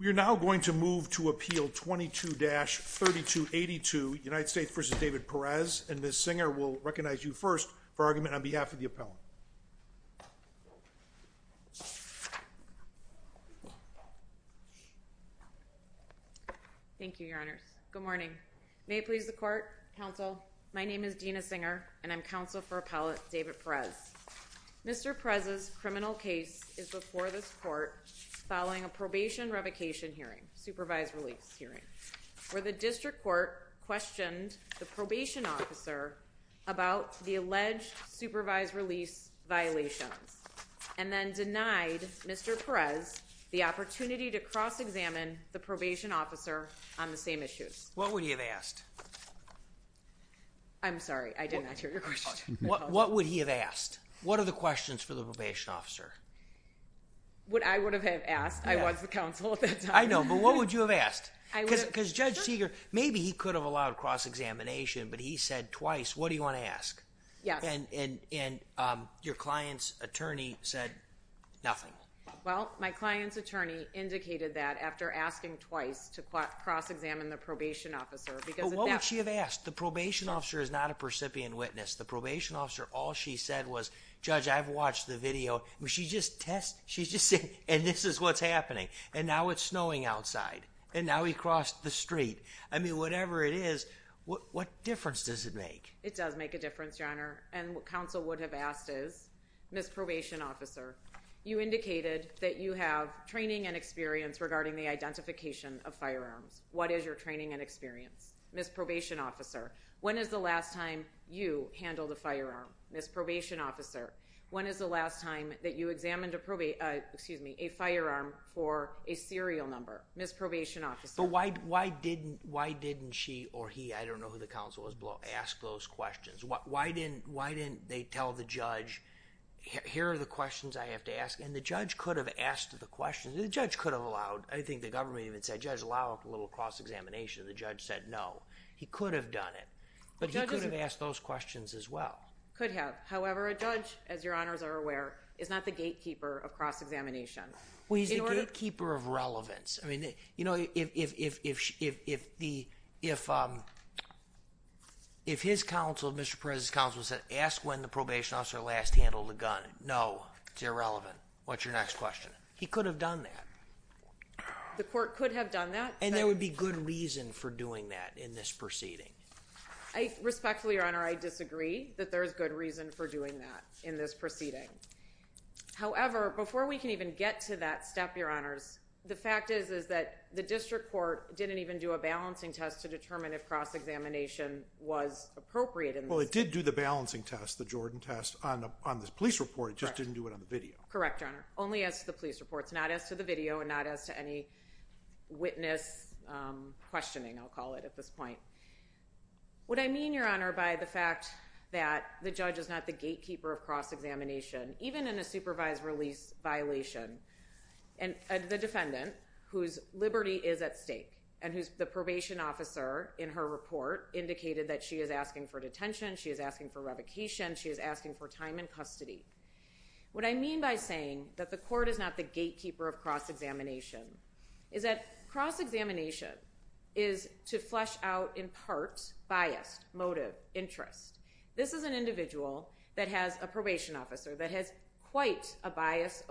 We are now going to move to appeal 22-3282 United States v. David Perez and Ms. Singer will recognize you first for argument on behalf of the appellant. Thank you, your honors. Good morning. May it please the court, counsel, my name is Dina Singer and I'm counsel for appellate David Perez. Mr. Perez's criminal case is before this court following a probation revocation hearing, supervised release hearing, where the district court questioned the probation officer about the alleged supervised release violations, and then denied Mr. Perez the opportunity to cross-examine the probation officer on the same issues. What would he have asked? I'm sorry, I did not hear your question. What would he have asked? What are the questions for the probation officer? What I would have asked, I was the counsel at that time. I know, but what would you have asked? Judge Seeger, maybe he could have allowed cross-examination, but he said twice, what do you want to ask? And your client's attorney said nothing. Well, my client's attorney indicated that after asking twice to cross-examine the probation officer. But what would she have asked? The probation officer is not a percipient witness. The probation officer, all she said was, Judge, I've watched the video. She's just testing, she's just saying, and this is what's happening. And now it's snowing outside. And now he crossed the street. I mean, whatever it is, what difference does it make? It does make a difference, Your Honor. And what counsel would have asked is, Ms. Probation Officer, you indicated that you have training and experience regarding the identification of firearms. What is your training and experience? Ms. Probation Officer, when is the last time you handled a firearm? Ms. Probation Officer, when is the last time that you examined a firearm for a serial number? Ms. Probation Officer. But why didn't she or he, I don't know who the counsel was below, ask those questions? Why didn't they tell the judge, here are the questions I have to ask? And the judge could have asked the questions. The judge could have allowed, I think the government even said, Judge, allow a little cross-examination. The judge said no. He could have done it. But he could have asked those questions as well. Could have. However, a judge, as Your Honors are aware, is not the gatekeeper of cross-examination. Well, he's the gatekeeper of relevance. You know, if his counsel, Mr. Perez's counsel, said, ask when the Probation Officer last handled a gun. No, it's irrelevant. What's your next question? He could have done that. The court could have done that. And there would be good reason for doing that in this proceeding. I respectfully, Your Honor, I disagree that there's good reason for doing that in this proceeding. However, before we can even get to that step, Your Honors, the fact is, is that the district court didn't even do a balancing test to determine if cross-examination was appropriate. Well, it did do the balancing test, the Jordan test, on the police report. It just didn't do it on the video. Correct, Your Honor. Only as to the police point. What I mean, Your Honor, by the fact that the judge is not the gatekeeper of cross-examination, even in a supervised release violation, and the defendant, whose liberty is at stake, and who's the Probation Officer in her report indicated that she is asking for detention, she is asking for revocation, she is asking for time in custody. What I mean by saying that the court is not the gatekeeper of cross-examination is that cross-examination is to flesh out in part bias, motive, interest. This is an individual that has a probation officer that has quite a bias,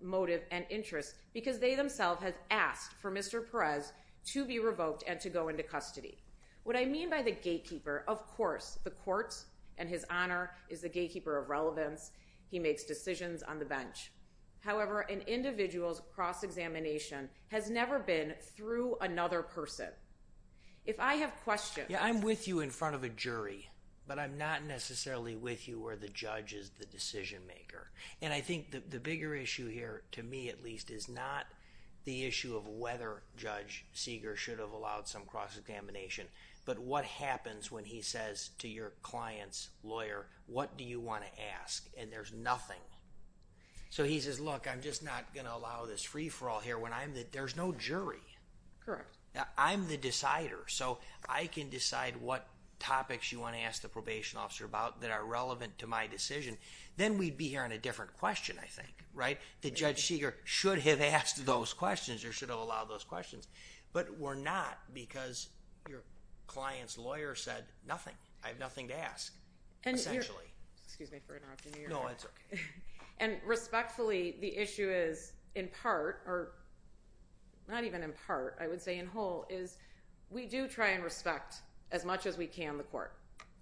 motive, and interest because they themselves have asked for Mr. Perez to be revoked and to go into custody. What I mean by the gatekeeper, of course, the court and His Honor is the gatekeeper of relevance. He makes decisions on the bench. However, an individual's cross-examination has never been through another person. If I have questions. I'm with you in front of a jury, but I'm not necessarily with you where the judge is the decision maker. I think the bigger issue here, to me at least, is not the issue of whether Judge Seeger should have allowed some cross-examination, but what happens when he says to your client's nothing. He says, look, I'm just not going to allow this free-for-all here when there's no jury. I'm the decider. I can decide what topics you want to ask the probation officer about that are relevant to my decision. Then we'd be hearing a different question, I think. The Judge Seeger should have asked those questions or should have allowed those questions, but we're not because your client's lawyer said nothing. I have nothing to ask, essentially. Excuse me for interrupting you. No, it's okay. And respectfully, the issue is in part, or not even in part, I would say in whole, is we do try and respect as much as we can the court.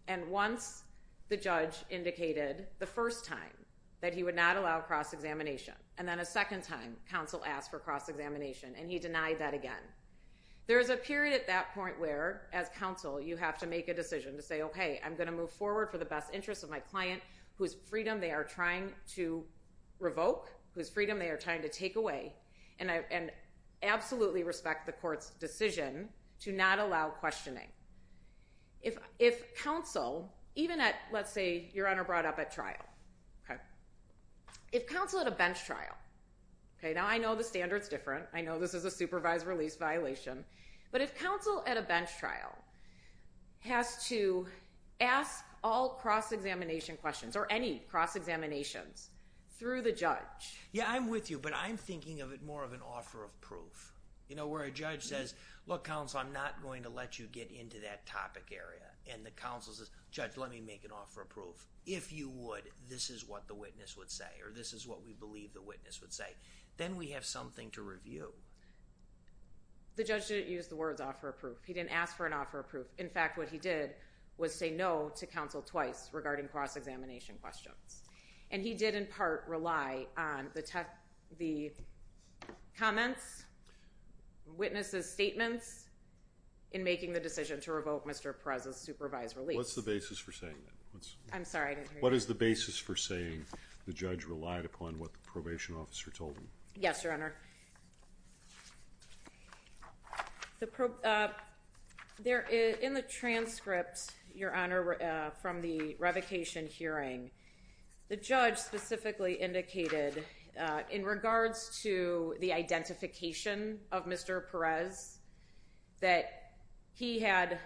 And once the judge indicated the first time that he would not allow cross-examination, and then a second time counsel asked for cross-examination and he denied that again. There is a period at that point where, as counsel, you have to make a decision to say, okay, I'm going to move forward for the best interest of my client, whose freedom they are trying to revoke, whose freedom they are trying to take away, and absolutely respect the court's decision to not allow questioning. If counsel, even at, let's say, your Honor brought up at trial, if counsel at a bench trial, now I know the standard's different. I know this is a supervised release violation. But if counsel at a bench trial has to ask all cross-examination questions, or any cross-examinations, through the judge. Yeah, I'm with you, but I'm thinking of it more of an offer of proof. You know, where a judge says, look, counsel, I'm not going to let you get into that topic area. And the counsel says, judge, let me make an offer of proof. If you would, this is what the witness would say, or this is what we believe the witness would say. Then we have something to review. The judge didn't use the words offer of proof. He didn't ask for an offer of proof. In fact, what he did was say no to counsel twice regarding cross-examination questions. And he did in part rely on the comments, witnesses' statements, in making the decision to revoke Mr. Perez's supervised release. What's the basis for saying that? I'm sorry, I didn't hear you. What is the basis for saying the judge relied upon what the probation officer told him? Yes, Your Honor. In the transcript, Your Honor, from the revocation hearing, the judge specifically indicated in regards to the identification of Mr. Perez that he had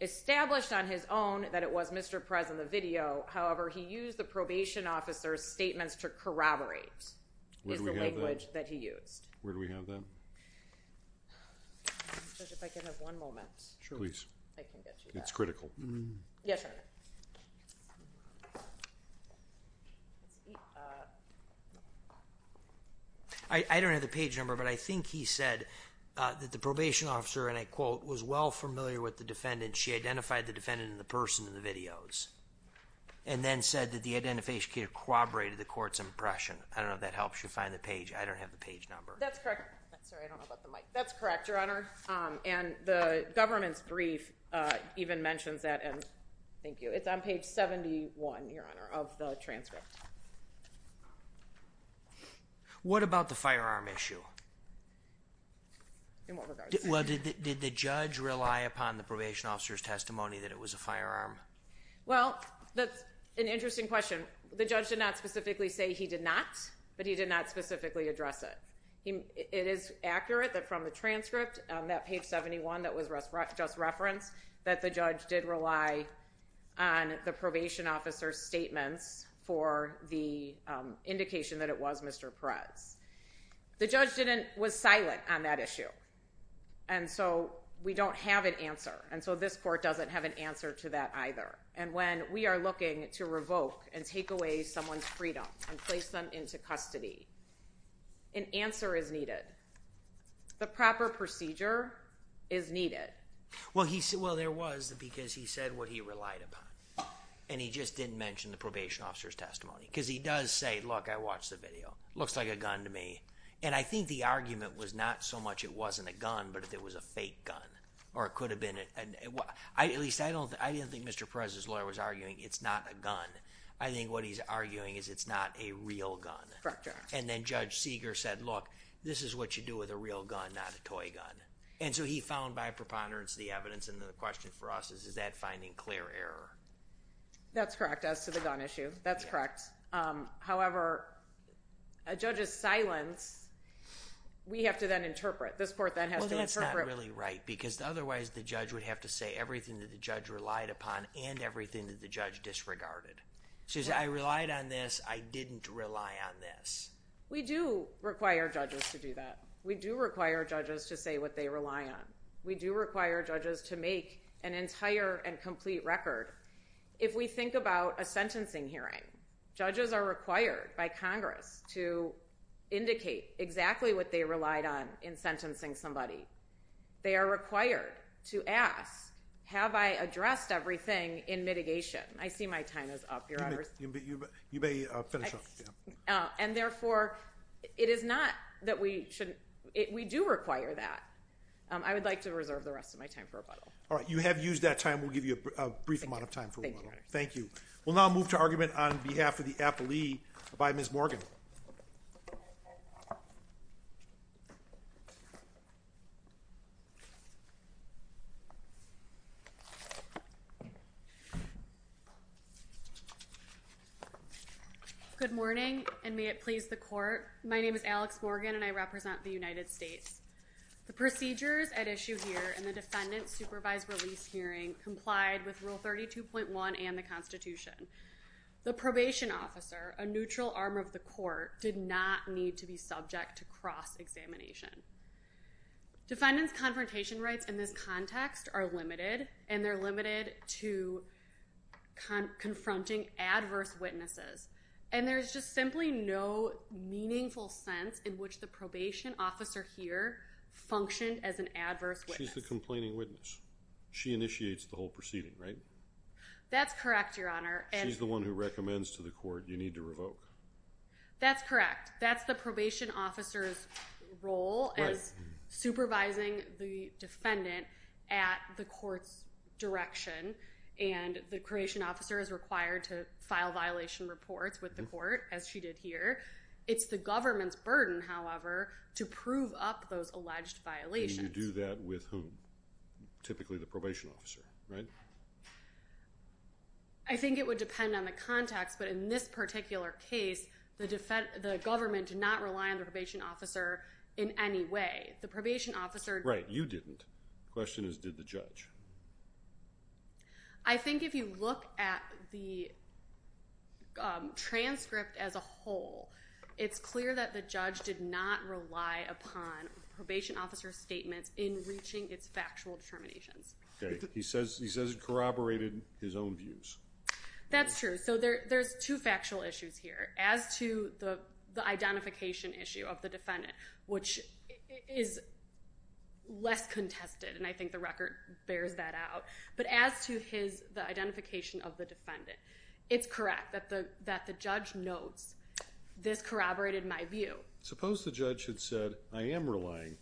established on his own that it was Mr. Perez in the video. However, he used the probation officer's statements to corroborate. Where do we have that? It's the language that he used. Where do we have that? Judge, if I can have one moment. Sure. Please. I can get you that. It's critical. Yes, Your Honor. I don't have the page number, but I think he said that the probation officer, and I quote, was well familiar with the defendant. She identified the defendant in the person in the videos and then said that the identification corroborated the court's impression. I don't know if that helps you find the page. I don't have the page number. That's correct. Sorry, I don't know about the mic. That's correct, Your Honor. The government's brief even mentions that. Thank you. It's on page 71, Your Honor, of the transcript. What about the firearm issue? In what regards? Did the judge rely upon the probation officer's testimony that it was a firearm? Well, that's an interesting question. The judge did not specifically say he did not, but he did not specifically address it. It is accurate that from the transcript, that page 71 that was just referenced, that the judge did rely on the probation officer's statements for the indication that it was Mr. Perez. The judge was silent on that issue, and so we don't have an answer, and so this court doesn't have an answer to that either. And when we are looking to revoke and take away someone's freedom and place them into custody, an answer is needed. The proper procedure is needed. Well, there was, because he said what he relied upon, and he just didn't mention the probation officer's testimony, because he does say, look, I watched the video. Looks like a gun to me. And I think the argument was not so much it wasn't a gun, but if it was a fake gun, or it could have been. At least, I didn't think Mr. Perez's lawyer was arguing it's not a gun. I think what he's arguing is it's not a real gun. Correct, Your Honor. And then Judge Seeger said, look, this is what you do with a real gun, not a toy gun. And so he found by preponderance the evidence, and then the question for us is, is that finding clear error? That's correct, as to the gun issue. That's correct. However, a judge's silence, we have to then interpret. This court then has to interpret. Well, that's not really right, because otherwise the judge would have to say everything that the judge relied upon and everything that the judge disregarded. She said, I relied on this. I didn't rely on this. We do require judges to do that. We do require judges to say what they rely on. We do require judges to make an entire and complete record. If we think about a sentencing hearing, judges are required by Congress to indicate exactly what they relied on in sentencing somebody. They are required to ask, have I addressed everything in mitigation? I see my time is up, Your Honor. You may finish up. And therefore, it is not that we shouldn't – we do require that. I would like to reserve the rest of my time for rebuttal. All right. You have used that time. We'll give you a brief amount of time for rebuttal. Thank you, Your Honor. Thank you. We'll now move to argument on behalf of the appellee by Ms. Morgan. Good morning, and may it please the court. My name is Alex Morgan, and I represent the United States. The procedures at issue here in the defendant's supervised release hearing complied with Rule 32.1 and the Constitution. The probation officer, a neutral arm of the court, did not need to be subject to cross-examination. Defendant's confrontation rights in this context are limited, and they're limited to confronting adverse witnesses. And there's just simply no meaningful sense in which the probation officer here functioned as an adverse witness. She's the complaining witness. She initiates the whole proceeding, right? That's correct, Your Honor. She's the one who recommends to the court you need to revoke. That's correct. That's the probation officer's role as supervising the defendant at the court's direction. And the probation officer is required to file violation reports with the court, as she did here. It's the government's burden, however, to prove up those alleged violations. And you do that with whom? Typically the probation officer, right? I think it would depend on the context, but in this particular case, the government did not rely on the probation officer in any way. The probation officer... Right. You didn't. The question is, did the judge? I think if you look at the transcript as a whole, it's clear that the judge did not rely upon probation officer's statements in reaching its factual determinations. Okay. He says it corroborated his own views. That's true. So there's two factual issues here. As to the identification issue of the defendant, which is less contested, and I think the record bears that out. But as to the identification of the defendant, it's correct that the judge notes this corroborated my view. Suppose the judge had said, I am relying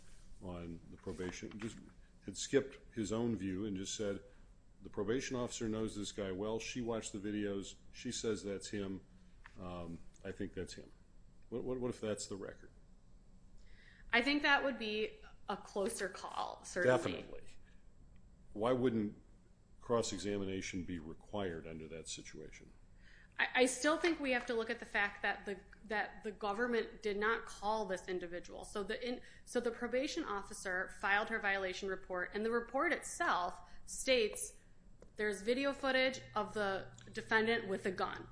on the probation, just had skipped his own view and just said, the probation officer knows this guy well. She watched the videos. She says that's him. I think that's him. What if that's the record? I think that would be a closer call, certainly. Definitely. Why wouldn't cross-examination be required under that situation? I still think we have to look at the fact that the government did not call this individual. So the probation officer filed her violation report, and the report itself states there's video footage of the defendant with a gun.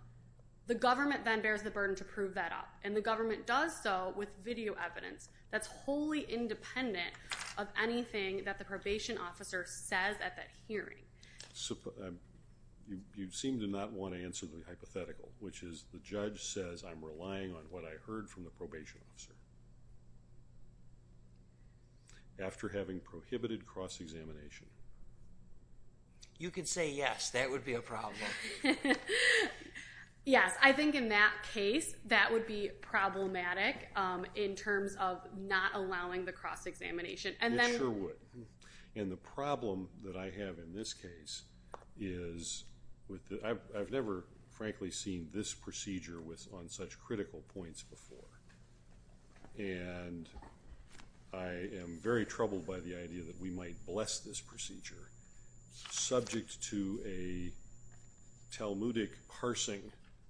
The government then bears the burden to prove that up, and the government does so with video evidence that's wholly independent of anything that the probation officer says at that hearing. So you seem to not want to answer the hypothetical, which is the judge says I'm relying on what I heard from the probation officer after having prohibited cross-examination. You can say yes. That would be a problem. Yes. I think in that case, that would be problematic in terms of not allowing the cross-examination. It sure would. And the problem that I have in this case is, I've never, frankly, seen this procedure on such critical points before. And I am very troubled by the idea that we might bless this procedure subject to a Talmudic parsing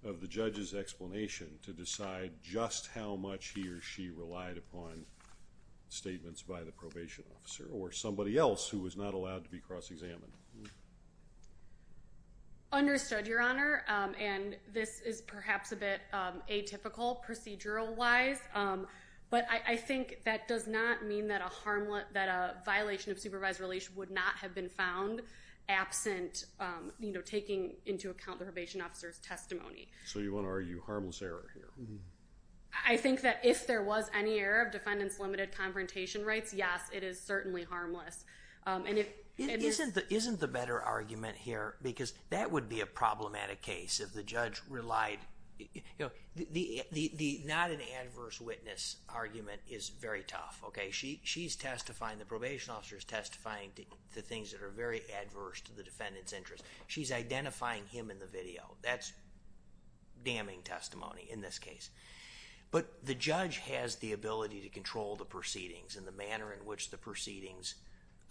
of the judge's explanation to decide just how much he or she relied upon statements by the probation officer or somebody else who was not allowed to be cross-examined. Understood, Your Honor. And this is perhaps a bit atypical procedural-wise. But I think that does not mean that a violation of supervised release would not have been found absent taking into account the probation officer's testimony. So you want to argue harmless error here. I think that if there was any error of defendant's limited confrontation rights, yes, it is certainly harmless. Isn't the better argument here? Because that would be a problematic case if the judge relied... The not an adverse witness argument is very tough, okay? She's testifying, the probation officer's testifying to things that are very adverse to the defendant's interest. She's identifying him in the video. That's damning testimony in this case. But the judge has the ability to control the proceedings and the manner in which the proceedings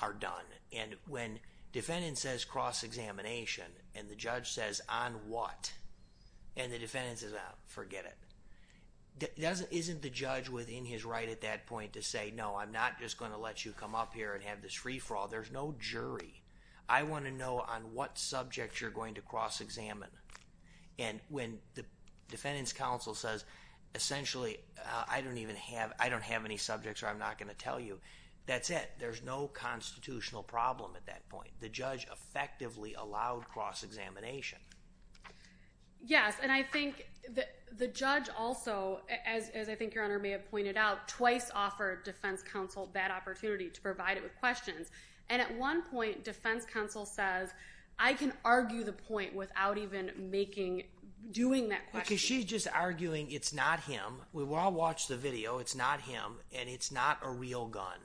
are done. And when defendant says cross-examination and the judge says, on what? And the defendant says, ah, forget it. Isn't the judge within his right at that point to say, no, I'm not just going to let you come up here and have this free-for-all? There's no jury. I want to know on what subject you're going to cross-examine. And when the defendant's counsel says, essentially, I don't even have... I'm not going to tell you, that's it. There's no constitutional problem at that point. The judge effectively allowed cross-examination. Yes, and I think the judge also, as I think Your Honor may have pointed out, twice offered defense counsel that opportunity to provide it with questions. And at one point, defense counsel says, I can argue the point without even making... Because she's just arguing it's not him. We all watched the video. It's not him, and it's not a real gun.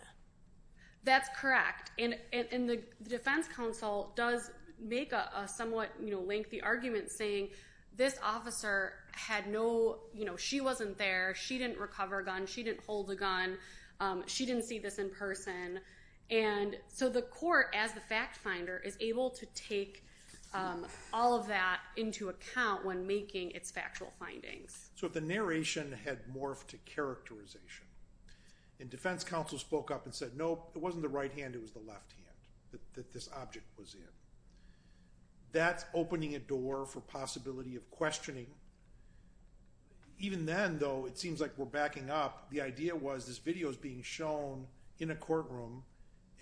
That's correct. And the defense counsel does make a somewhat lengthy argument saying, this officer had no... You know, she wasn't there. She didn't recover a gun. She didn't hold a gun. She didn't see this in person. And so the court, as the fact-finder, is able to take all of that into account when making its factual findings. So if the narration had morphed to characterization and defense counsel spoke up and said, nope, it wasn't the right hand, it was the left hand that this object was in, that's opening a door for possibility of questioning. Even then, though, it seems like we're backing up. The idea was this video is being shown in a courtroom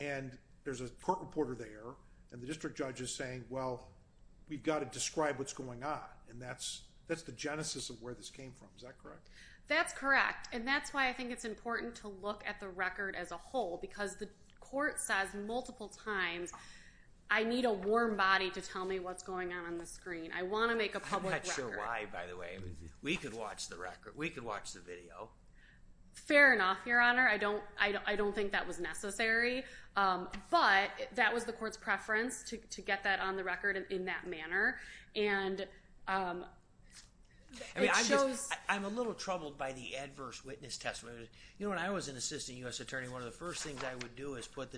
and there's a court reporter there and the district judge is saying, well, we've got to describe what's going on. And that's the genesis of where this came from. Is that correct? That's correct. And that's why I think it's important to look at the record as a whole because the court says multiple times, I need a warm body to tell me what's going on on the screen. I want to make a public record. I'm not sure why, by the way. We could watch the record. We could watch the video. Fair enough, Your Honor. I don't think that was necessary. But that was the court's preference to get that on the record in that manner. And it shows... I'm a little troubled by the adverse witness testimony. You know, when I was an assistant U.S. attorney, one of the first things I would do is put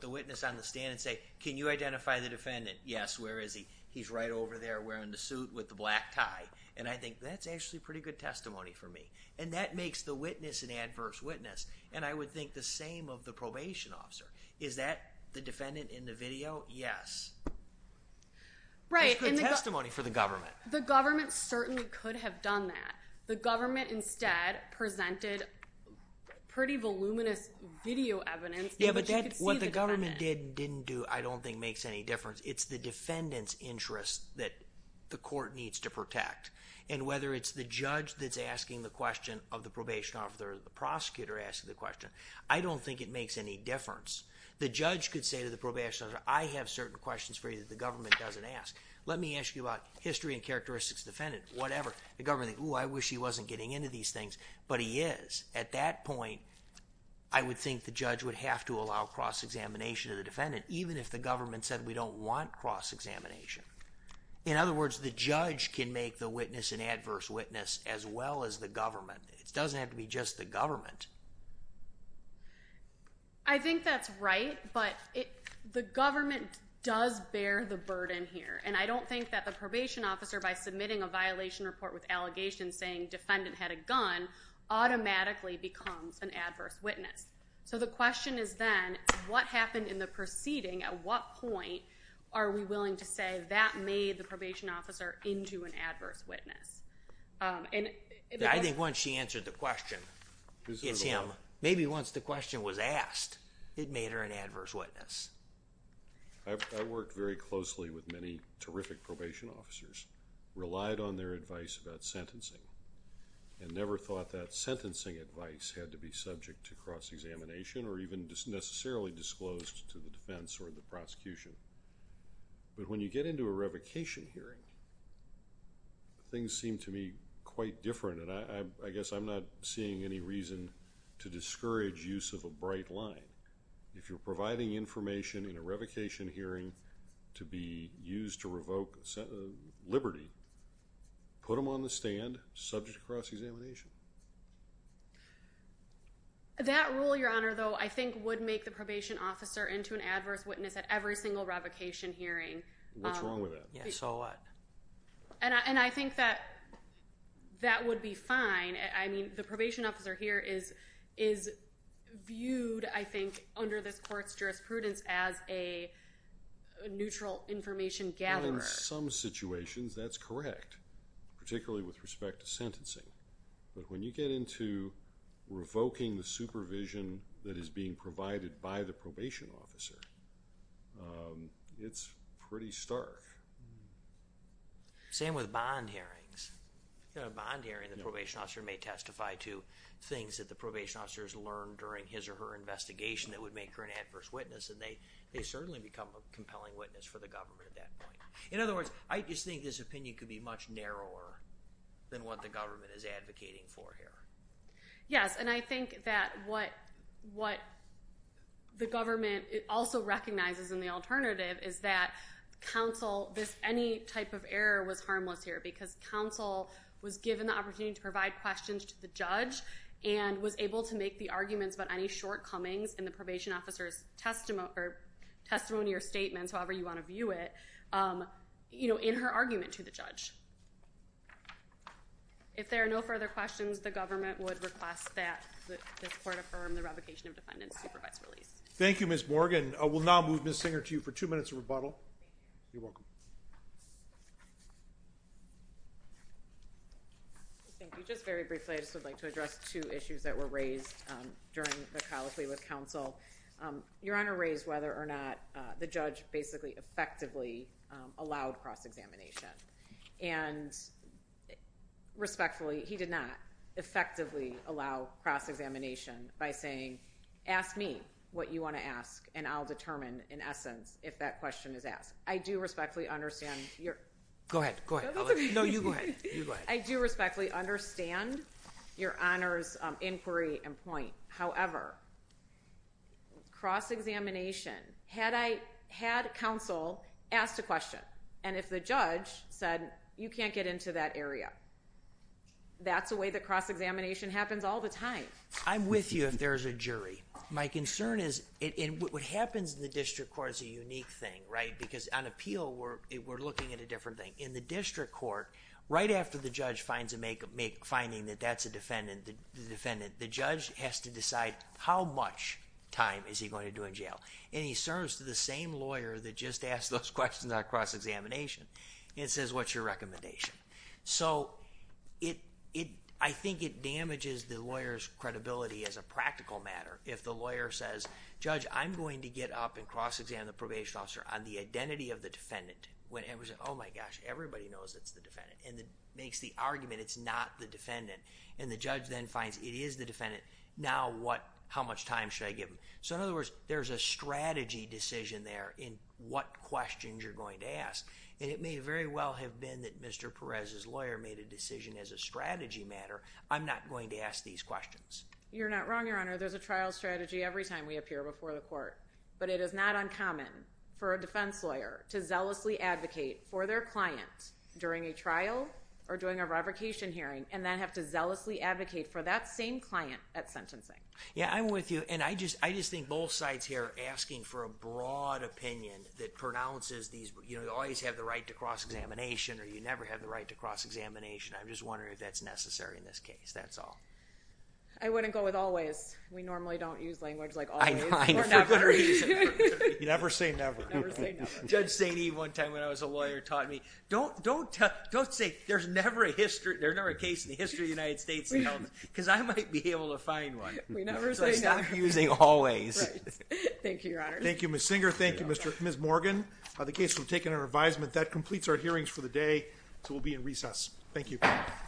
the witness on the stand and say, can you identify the defendant? Yes, where is he? He's right over there wearing the suit with the black tie. And I think that's actually pretty good testimony for me. And that makes the witness an adverse witness. And I would think the same of the probation officer. Is that the defendant in the video? Yes. That's good testimony for the government. The government certainly could have done that. The government instead presented pretty voluminous video evidence that you could see the defendant. Yeah, but what the government did and didn't do I don't think makes any difference. It's the defendant's interest that the court needs to protect. And whether it's the judge that's asking the question of the probation officer or the prosecutor asking the question, I don't think it makes any difference. The judge could say to the probation officer, I have certain questions for you that the government doesn't ask. Let me ask you about history and characteristics of the defendant, whatever. The government would think, oh, I wish he wasn't getting into these things. But he is. At that point, I would think the judge would have to allow cross-examination of the defendant, even if the government said we don't want cross-examination. In other words, the judge can make the witness an adverse witness as well as the government. It doesn't have to be just the government. I think that's right. But the government does bear the burden here. And I don't think that the probation officer, by submitting a violation report with allegations saying defendant had a gun, automatically becomes an adverse witness. So the question is then, what happened in the proceeding? At what point are we willing to say that made the probation officer into an adverse witness? I think once she answered the question, it's him. Maybe once the question was asked, it made her an adverse witness. I worked very closely with many terrific probation officers, relied on their advice about sentencing, and never thought that sentencing advice had to be subject to cross-examination or even necessarily disclosed to the defense or the prosecution. But when you get into a revocation hearing, things seem to me quite different. And I guess I'm not seeing any reason to discourage use of a bright line. If you're providing information in a revocation hearing to be used to revoke liberty, put them on the stand, subject to cross-examination. That rule, Your Honor, though, I think would make the probation officer into an adverse witness at every single revocation hearing. What's wrong with that? Yeah, so what? And I think that that would be fine. I mean, the probation officer here is viewed, I think, under this court's jurisprudence as a neutral information gatherer. Well, in some situations, that's correct, particularly with respect to sentencing. But when you get into revoking the supervision that is being provided by the probation officer, it's pretty stark. Same with bond hearings. In a bond hearing, the probation officer may testify to things that the probation officer has learned during his or her investigation that would make her an adverse witness, and they certainly become a compelling witness for the government at that point. In other words, I just think this opinion could be much narrower than what the government is advocating for here. Yes, and I think that what the government also recognizes in the alternative is that counsel, any type of error was harmless here because counsel was given the opportunity to provide questions to the judge and was able to make the arguments about any shortcomings in the probation officer's testimony or statements, however you want to view it, in her argument to the judge. If there are no further questions, the government would request that this court affirm the revocation of defendants' supervised release. Thank you, Ms. Morgan. We'll now move Ms. Singer to you for two minutes of rebuttal. You're welcome. Thank you. Just very briefly, I just would like to address two issues that were raised during the colloquy with counsel. Your Honor raised whether or not the judge basically effectively allowed cross-examination, and respectfully, he did not effectively allow cross-examination by saying, ask me what you want to ask and I'll determine, in essence, if that question is asked. I do respectfully ask Go ahead, go ahead. No, you go ahead. I do respectfully understand Your Honor's inquiry and point. However, cross-examination, had I had counsel ask a question and if the judge said, you can't get into that area, that's the way that cross-examination happens all the time. I'm with you if there's a jury. My concern is, what happens in the district court is a unique thing, right? Because on appeal, we're looking at a different thing. In the district court, right after the judge finds a finding that that's a defendant, the judge has to decide how much time is he going to do in jail. And he serves to the same lawyer that just asked those questions on cross-examination and says, what's your recommendation? So, I think it damages the lawyer's credibility as a practical matter. If the lawyer says, judge, I'm going to get up and cross-examine the probation officer on the identity of the defendant. Oh my gosh, everybody knows it's the defendant. And makes the argument it's not the defendant. And the judge then finds it is the defendant. Now, how much time should I give him? So, in other words, there's a strategy decision there in what questions you're going to ask. And it may very well have been that Mr. Perez's lawyer made a decision as a strategy matter, I'm not going to ask these questions. You're not wrong, Your Honor. There's a trial strategy every time we appear before the court. But it is not uncommon for a defense lawyer to zealously advocate for their client during a trial or during a revocation hearing and then have to zealously advocate for that same client at sentencing. Yeah, I'm with you. And I just think both sides here are asking for a broad opinion that pronounces these, you know, you always have the right to cross-examination or you never have the right to cross-examination. I'm just wondering if that's necessary in this case. That's all. I wouldn't go with always. We normally don't use language like always. I know. For good reason. Never say never. Never say never. Judge St. Eve one time when I was a lawyer taught me don't say there's never a case in the history of the United States because I might be able to find one. We never say never. So I start using always. Right. Thank you, Your Honor. Thank you, Ms. Singer. Thank you, Ms. Morgan. The case will be taken under advisement. That completes our hearings for the day so we'll be in recess. Thank you.